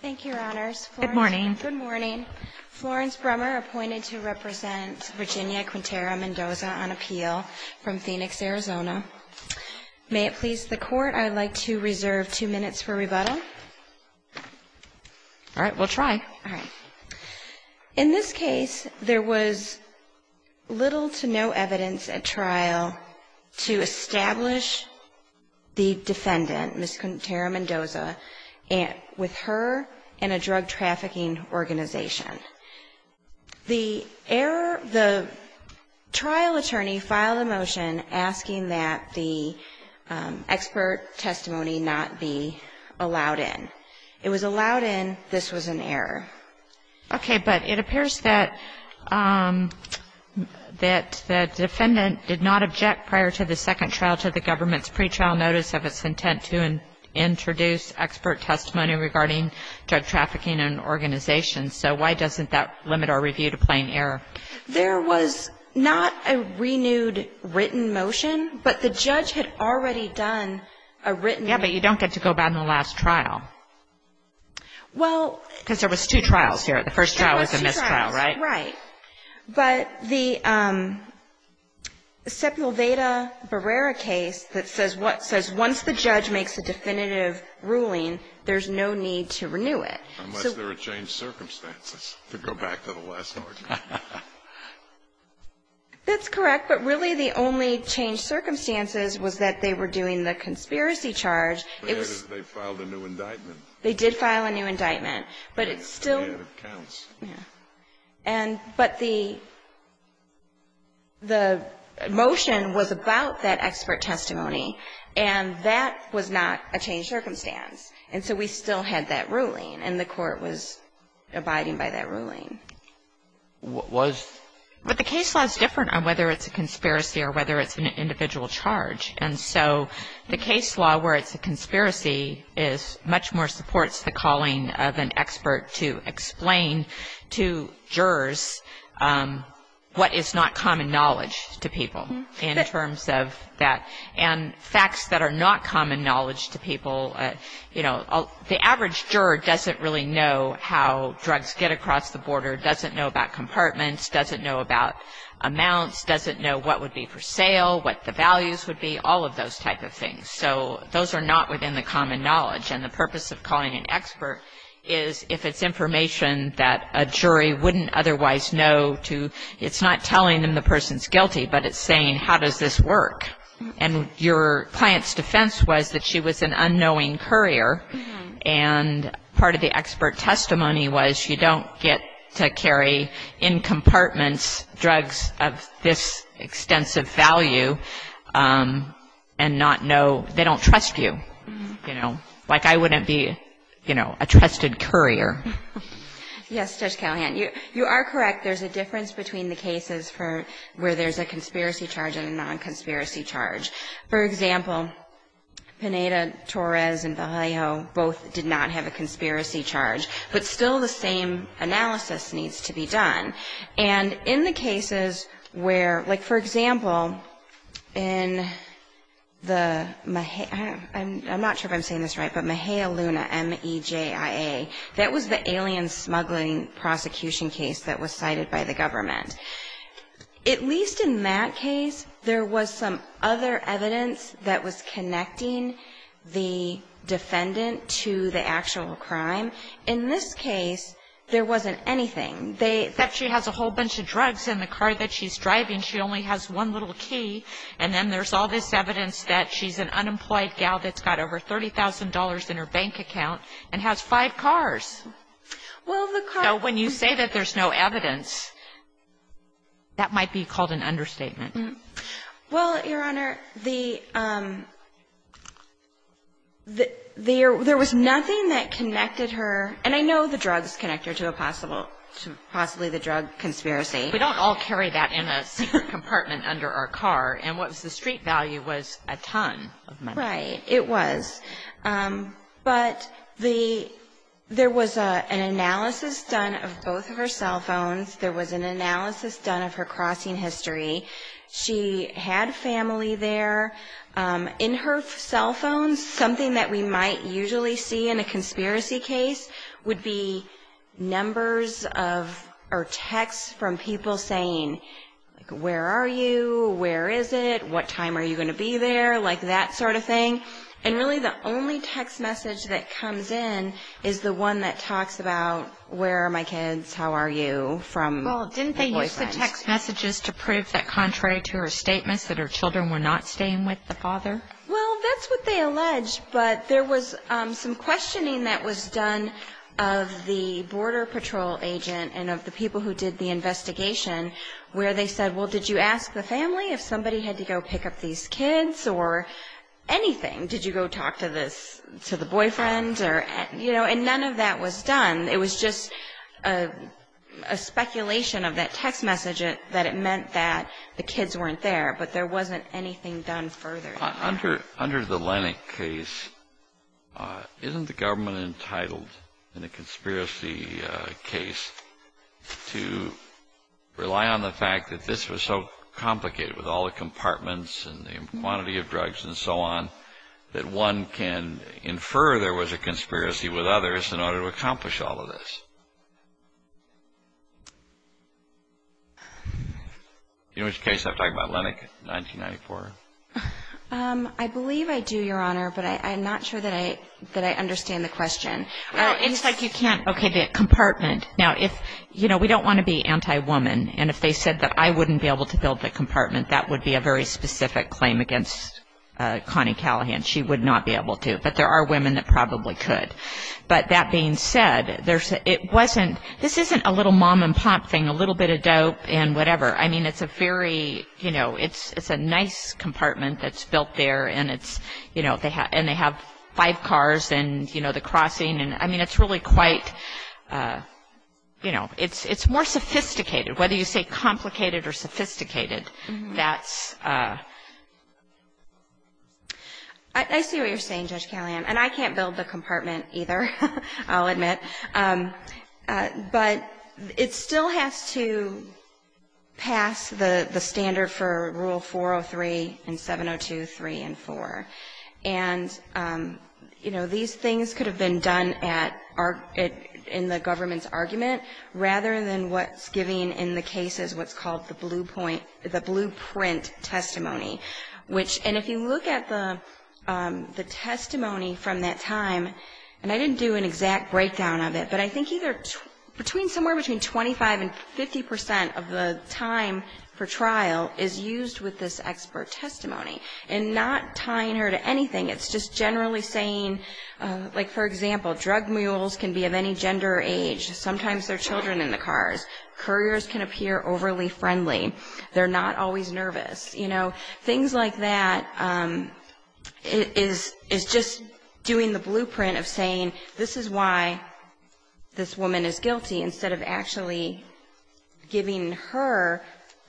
Thank you, Your Honors. Good morning. Good morning. Florence Brummer appointed to represent Virginia Quintero-Mendoza on appeal from Phoenix, Arizona. May it please the Court, I'd like to reserve two minutes for rebuttal. All right, we'll try. In this case, there was little to no evidence at trial to establish the defendant, Ms. Quintero-Mendoza, with her and a drug trafficking organization. The trial attorney filed a motion asking that the expert testimony not be allowed in. It was allowed in. This was an error. Okay, but it appears that the defendant did not object prior to the second trial to the expert testimony regarding drug trafficking and organizations, so why doesn't that limit our review to plain error? There was not a renewed written motion, but the judge had already done a written motion. Yeah, but you don't get to go back in the last trial, because there was two trials here. The first trial was a mistrial, right? There were two trials, right, but the Sepulveda Barrera case that says once the judge makes a definitive ruling, there's no need to renew it. Unless there are changed circumstances, to go back to the last argument. That's correct, but really the only changed circumstances was that they were doing the conspiracy charge. They filed a new indictment. They did file a new indictment, but it still But the motion was about that expert testimony, and that was not a changed circumstance, and so we still had that ruling, and the court was abiding by that ruling. Was? But the case law is different on whether it's a conspiracy or whether it's an individual charge, and so the case law where it's a conspiracy is much more supports the calling of an expert to explain to jurors what is not common knowledge to people in terms of that. And facts that are not common knowledge to people, you know, the average juror doesn't really know how drugs get across the border, doesn't know about compartments, doesn't know about amounts, doesn't know what would be for sale, what the values would be, all of those type of things. So those are not within the common knowledge, and the purpose of calling an expert is if it's information that a jury wouldn't otherwise know to, it's not telling them the person's And your client's defense was that she was an unknowing courier, and part of the expert testimony was you don't get to carry in compartments drugs of this extensive value and not know they don't trust you, you know, like I wouldn't be, you know, a trusted courier. Yes, Judge Callahan, you are correct, there's a difference between the cases for where there's a conspiracy charge and a non-conspiracy charge. For example, Pineda-Torres and Vallejo both did not have a conspiracy charge, but still the same analysis needs to be done. And in the cases where, like for example, in the, I'm not sure if I'm saying this right, but Mejia Luna, M-E-J-I-A, that was the alien smuggling prosecution case that was cited by the government. At least in that case, there was some other evidence that was connecting the defendant to the actual crime. In this case, there wasn't anything. Except she has a whole bunch of drugs in the car that she's driving, she only has one little key, and then there's all this evidence that she's an unemployed gal that's got over $30,000 in her bank account and has five cars. So when you say that there's no evidence, that might be called an understatement. Well, Your Honor, there was nothing that connected her, and I know the drugs connect her to possibly the drug conspiracy. We don't all carry that in a secret compartment under our car, and what was the street value was a ton of money. Right, it was. But there was an analysis done of both of her cell phones, there was an analysis done of her crossing history. She had family there. In her cell phones, something that we might usually see in a conspiracy case would be numbers or texts from people saying, where are you, where is it, what time are you going to be there, that sort of thing. And really the only text message that comes in is the one that talks about where are my kids, how are you, from the boyfriend. Well, didn't they use the text messages to prove that contrary to her statements that her children were not staying with the father? Well, that's what they alleged, but there was some questioning that was done of the border patrol agent and of the people who did the investigation where they said, well, did you ask the family if somebody had to go pick up these kids or anything? Did you go talk to the boyfriend? And none of that was done. It was just a speculation of that text message that it meant that the kids weren't there, but there wasn't anything done further than that. Under the Lennock case, isn't the government entitled in a conspiracy case to rely on the compartments and the quantity of drugs and so on that one can infer there was a conspiracy with others in order to accomplish all of this? Do you know which case I'm talking about, Lennock, 1994? I believe I do, Your Honor, but I'm not sure that I understand the question. It's like you can't, okay, the compartment. Now, we don't want to be anti-woman, and if they said that I wouldn't be able to build the compartment, that would be a very specific claim against Connie Callahan. She would not be able to, but there are women that probably could. But that being said, this isn't a little mom and pop thing, a little bit of dope and whatever. I mean, it's a nice compartment that's built there, and they have five cars and the crossing. I mean, it's really quite, you know, it's more sophisticated. Whether you say complicated or sophisticated, that's... I see what you're saying, Judge Callahan, and I can't build the compartment either, I'll admit. But it still has to pass the standard for Rule 403 and 702, 3 and 4. And, you know, these things could have been done in the government's argument, rather than what's given in the case is what's called the blueprint testimony. And if you look at the testimony from that time, and I didn't do an exact breakdown of it, but I think somewhere between 25 and 50 percent of the time for trial is used with this expert testimony, and not tying her to anything. It's just generally saying, like, for example, drug mules can be of any gender or age. Sometimes they're children in the cars. Couriers can appear overly friendly. They're not always nervous, you know. Things like that is just doing the blueprint of saying, this is why this woman is guilty, instead of actually giving her,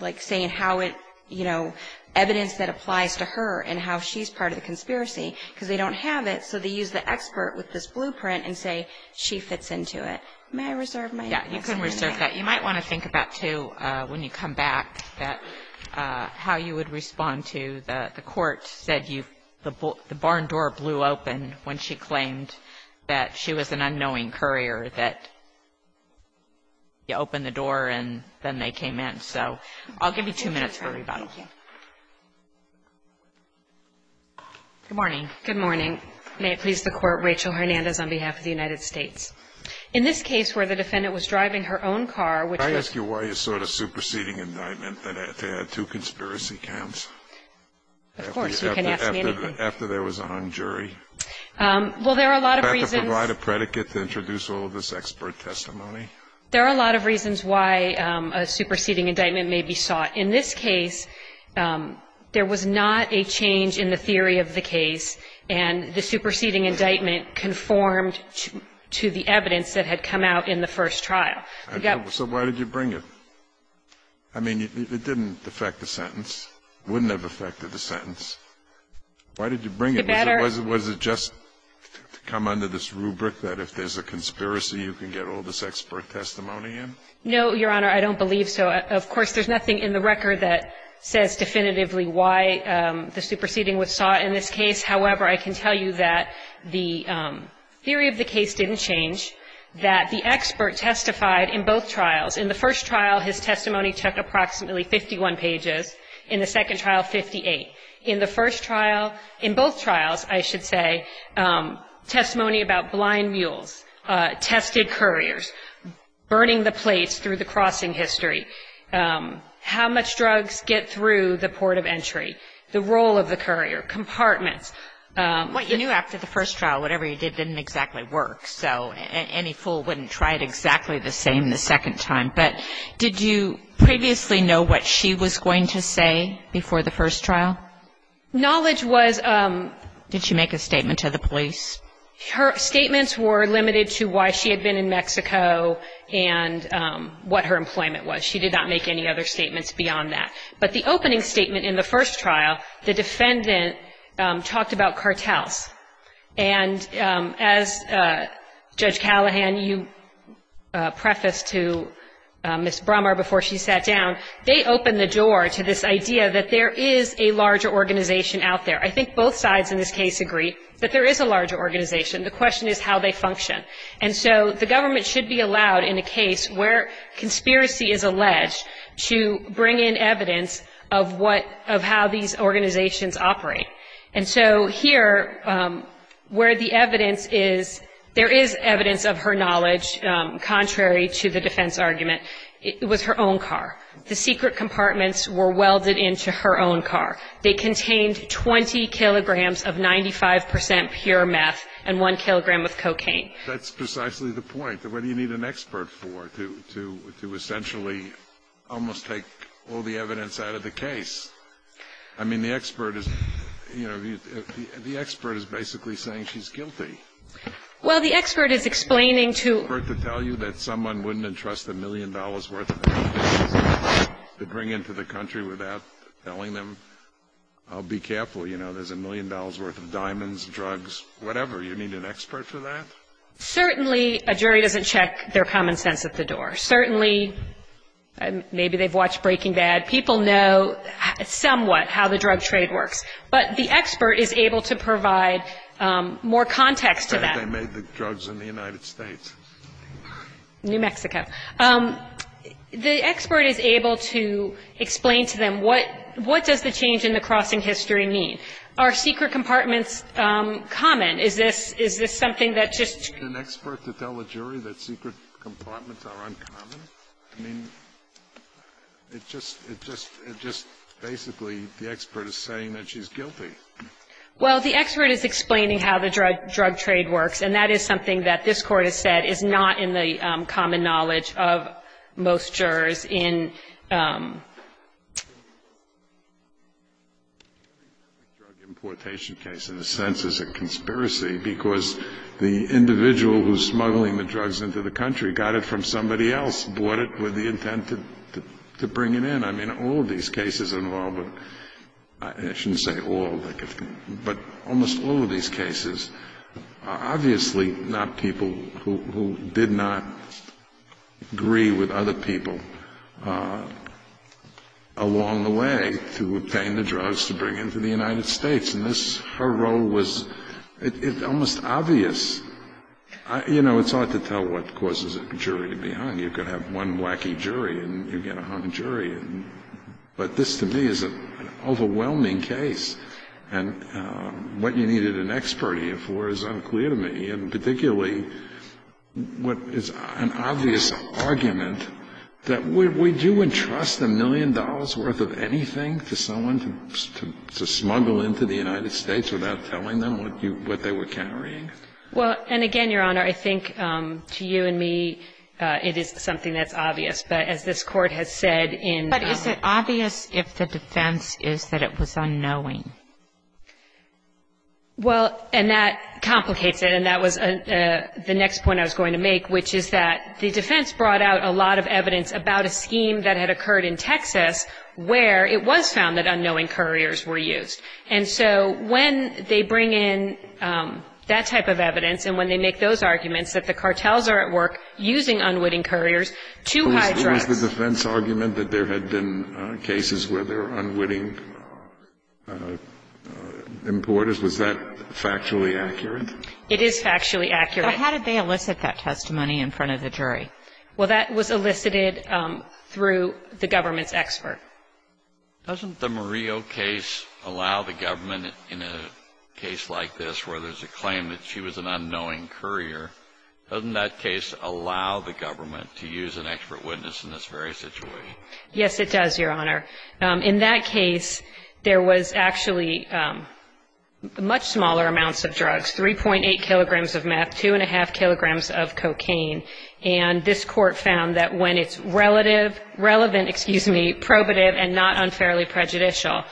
like, saying how it, you know, evidence that applies to her and how she's part of the conspiracy, because they don't have it. So they use the expert with this blueprint and say, she fits into it. May I reserve my... Yeah, you can reserve that. You might want to think about, too, when you come back, that how you would respond to the court said you... You open the door, and then they came in. So I'll give you two minutes for rebuttal. Thank you. Good morning. Good morning. May it please the Court, Rachel Hernandez on behalf of the United States. In this case where the defendant was driving her own car, which... Can I ask you why you sought a superseding indictment that had two conspiracy counts. Of course, you can ask me anything. After there was a hung jury. Well, there are a lot of reasons. Did you provide a predicate to introduce all of this expert testimony? There are a lot of reasons why a superseding indictment may be sought. In this case, there was not a change in the theory of the case, and the superseding indictment conformed to the evidence that had come out in the first trial. So why did you bring it? I mean, it didn't affect the sentence. Why did you bring it? Was it just to come under this rubric that if there's a conspiracy, you can get all this expert testimony in? No, Your Honor, I don't believe so. Of course, there's nothing in the record that says definitively why the superseding was sought in this case. However, I can tell you that the theory of the case didn't change, that the expert testified in both trials. In the first trial, his testimony took approximately 51 pages. In the second trial, 58. In the first trial, in both trials, I should say, testimony about blind mules, tested couriers, burning the plates through the crossing history, how much drugs get through the port of entry, the role of the courier, compartments. What you knew after the first trial, whatever you did didn't exactly work, so any fool wouldn't try it exactly the same the second time. But did you previously know what she was going to say before the first trial? Knowledge was — Did she make a statement to the police? Her statements were limited to why she had been in Mexico and what her employment was. She did not make any other statements beyond that. But the opening statement in the first trial, the defendant talked about cartels. And as Judge Callahan, you prefaced to Ms. Brummer before she sat down, they opened the door to this idea that there is a larger organization out there. I think both sides in this case agree that there is a larger organization. The question is how they function. And so the government should be allowed in a case where conspiracy is alleged to bring in evidence of what — of how these organizations operate. And so here, where the evidence is, there is evidence of her knowledge, contrary to the defense argument. It was her own car. The secret compartments were welded into her own car. They contained 20 kilograms of 95 percent pure meth and one kilogram of cocaine. That's precisely the point. What do you need an expert for to essentially almost take all the evidence out of the case? I mean, the expert is — you know, the expert is basically saying she's guilty. Well, the expert is explaining to — The expert to tell you that someone wouldn't entrust a million dollars' worth of evidence to bring into the country without telling them, I'll be careful, you know, there's a million dollars' worth of diamonds, drugs, whatever. You need an expert for that? Certainly a jury doesn't check their common sense at the door. Certainly — maybe they've watched Breaking Bad. People know somewhat how the drug trade works. But the expert is able to provide more context to that. I bet they made the drugs in the United States. New Mexico. The expert is able to explain to them, what does the change in the crossing history mean? Are secret compartments common? Is this something that just — An expert to tell a jury that secret compartments are uncommon? I mean, it just — it just — it just — basically, the expert is saying that she's guilty. Well, the expert is explaining how the drug trade works, and that is something that this Court has said is not in the common knowledge of most jurors in — Drug importation case, in a sense, is a conspiracy, because the individual who's smuggling the drugs into the country got it from somebody else. Someone else bought it with the intent to bring it in. I mean, all of these cases involve — I shouldn't say all, but almost all of these cases are obviously not people who did not agree with other people along the way to obtain the drugs to bring into the United States. And this — her role was — it's almost obvious. You know, it's hard to tell what causes a jury to be hung. You could have one wacky jury, and you get a hung jury. But this, to me, is an overwhelming case. And what you needed an expert here for is unclear to me, and particularly what is an obvious argument, that we do entrust a million dollars' worth of anything to someone to smuggle into the United States without telling them what they were carrying. Well, and again, Your Honor, I think to you and me, it is something that's obvious. But as this Court has said in — But is it obvious if the defense is that it was unknowing? Well, and that complicates it. And that was the next point I was going to make, which is that the defense brought out a lot of evidence about a scheme that had occurred in Texas where it was found that unknowing couriers were used. And so when they bring in that type of evidence and when they make those arguments that the cartels are at work using unwitting couriers to hide drugs — Was the defense argument that there had been cases where there were unwitting importers, was that factually accurate? It is factually accurate. But how did they elicit that testimony in front of the jury? Well, that was elicited through the government's expert. Doesn't the Murillo case allow the government in a case like this where there's a claim that she was an unknowing courier, doesn't that case allow the government to use an expert witness in this very situation? Yes, it does, Your Honor. In that case, there was actually much smaller amounts of drugs, 3.8 kilograms of meth, 2.5 kilograms of cocaine. And this court found that when it's relative — relevant, excuse me, probative and not unfairly prejudicial,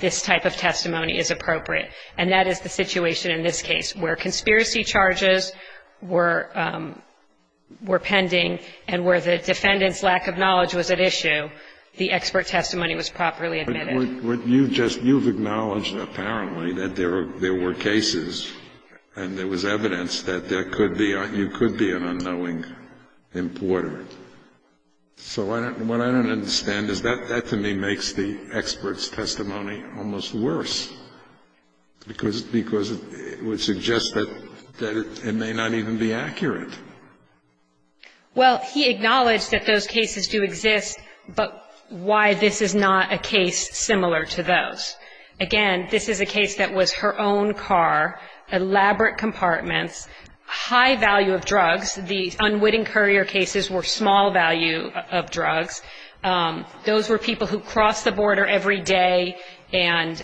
this type of testimony is appropriate. And that is the situation in this case where conspiracy charges were pending and where the defendant's lack of knowledge was at issue, the expert testimony was properly admitted. But you just — you've acknowledged apparently that there were cases and there was evidence that there could be — you could be an unknowing importer. So what I don't understand is that to me makes the expert's testimony almost worse because it would suggest that it may not even be accurate. Well, he acknowledged that those cases do exist, but why this is not a case similar to those. Again, this is a case that was her own car, elaborate compartments, high value of drugs. The unwitting courier cases were small value of drugs. Those were people who crossed the border every day and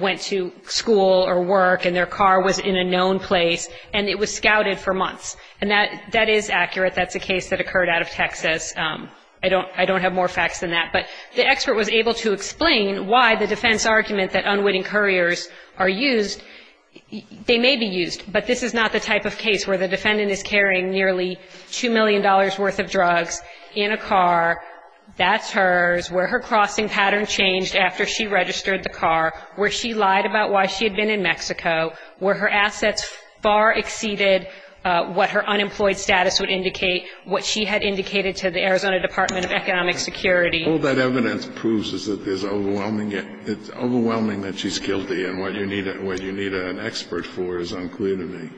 went to school or work, and their car was in a known place, and it was scouted for months. And that is accurate. That's a case that occurred out of Texas. I don't have more facts than that. But the expert was able to explain why the defense argument that unwitting couriers are used, they may be used, but this is not the type of case where the defendant is carrying nearly $2 million worth of drugs in a car, that's hers, where her crossing pattern changed after she registered the car, where she lied about why she had been in Mexico, where her assets far exceeded what her unemployed status would indicate, what she had indicated to the Arizona Department of Economic Security. All that evidence proves is that there's overwhelming, it's overwhelming that she's guilty and what you need an expert for is unclear to me.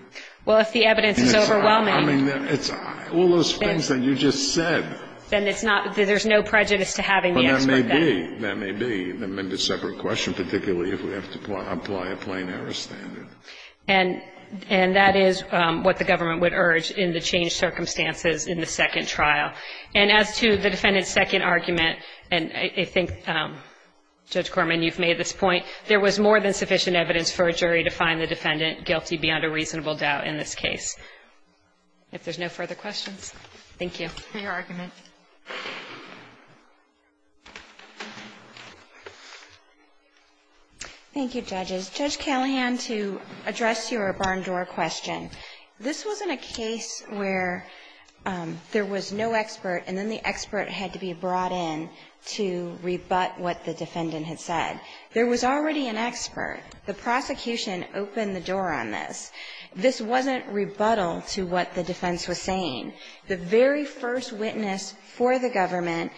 Well, if the evidence is overwhelming. I mean, it's all those things that you just said. Then it's not, there's no prejudice to having the expert. But that may be. That may be. That may be a separate question, particularly if we have to apply a plain error standard. And that is what the government would urge in the changed circumstances in the second trial. And as to the defendant's second argument, and I think, Judge Corman, you've made this point, there was more than sufficient evidence for a jury to find the defendant guilty beyond a reasonable doubt in this case. If there's no further questions. Thank you. For your argument. Thank you, judges. Judge Callahan, to address your barn door question. This wasn't a case where there was no expert and then the expert had to be brought in to rebut what the defendant had said. There was already an expert. The prosecution opened the door on this. This wasn't rebuttal to what the defense was saying. The very first witness for the government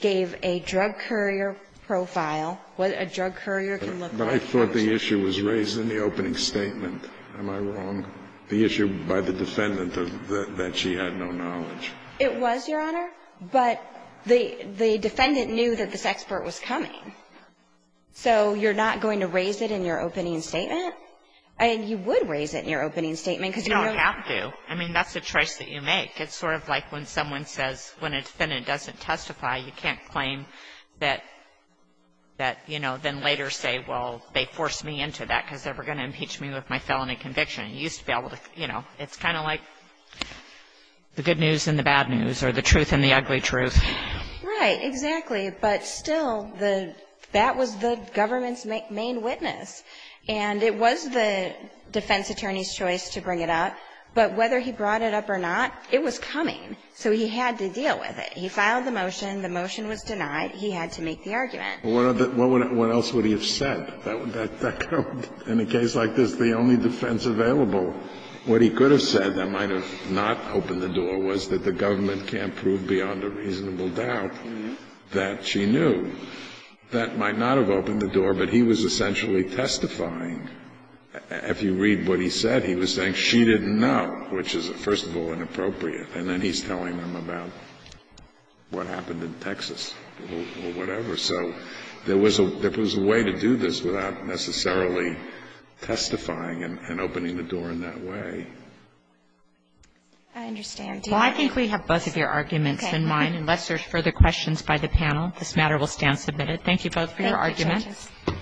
gave a drug courier profile, what a drug courier can look like. But I thought the issue was raised in the opening statement. Am I wrong? The issue by the defendant that she had no knowledge. It was, Your Honor. But the defendant knew that this expert was coming. So you're not going to raise it in your opening statement? I mean, you would raise it in your opening statement. You don't have to. I mean, that's a choice that you make. It's sort of like when someone says, when a defendant doesn't testify, you can't claim that, you know, then later say, well, they forced me into that because they were going to impeach me with my felony conviction. You used to be able to, you know, it's kind of like the good news and the bad news or the truth and the ugly truth. Right. Exactly. But still, that was the government's main witness. And it was the defense attorney's choice to bring it up. But whether he brought it up or not, it was coming. So he had to deal with it. He filed the motion. The motion was denied. He had to make the argument. Well, what else would he have said? In a case like this, the only defense available, what he could have said that might have not opened the door was that the government can't prove beyond a reasonable doubt that she knew. That might not have opened the door, but he was essentially testifying. If you read what he said, he was saying she didn't know, which is, first of all, inappropriate. And then he's telling them about what happened in Texas or whatever. So there was a way to do this without necessarily testifying and opening the door in that way. I understand. Well, I think we have both of your arguments in mind. Okay. Unless there's further questions by the panel, this matter will stand submitted. Thank you both for your arguments. Thank you, Justice.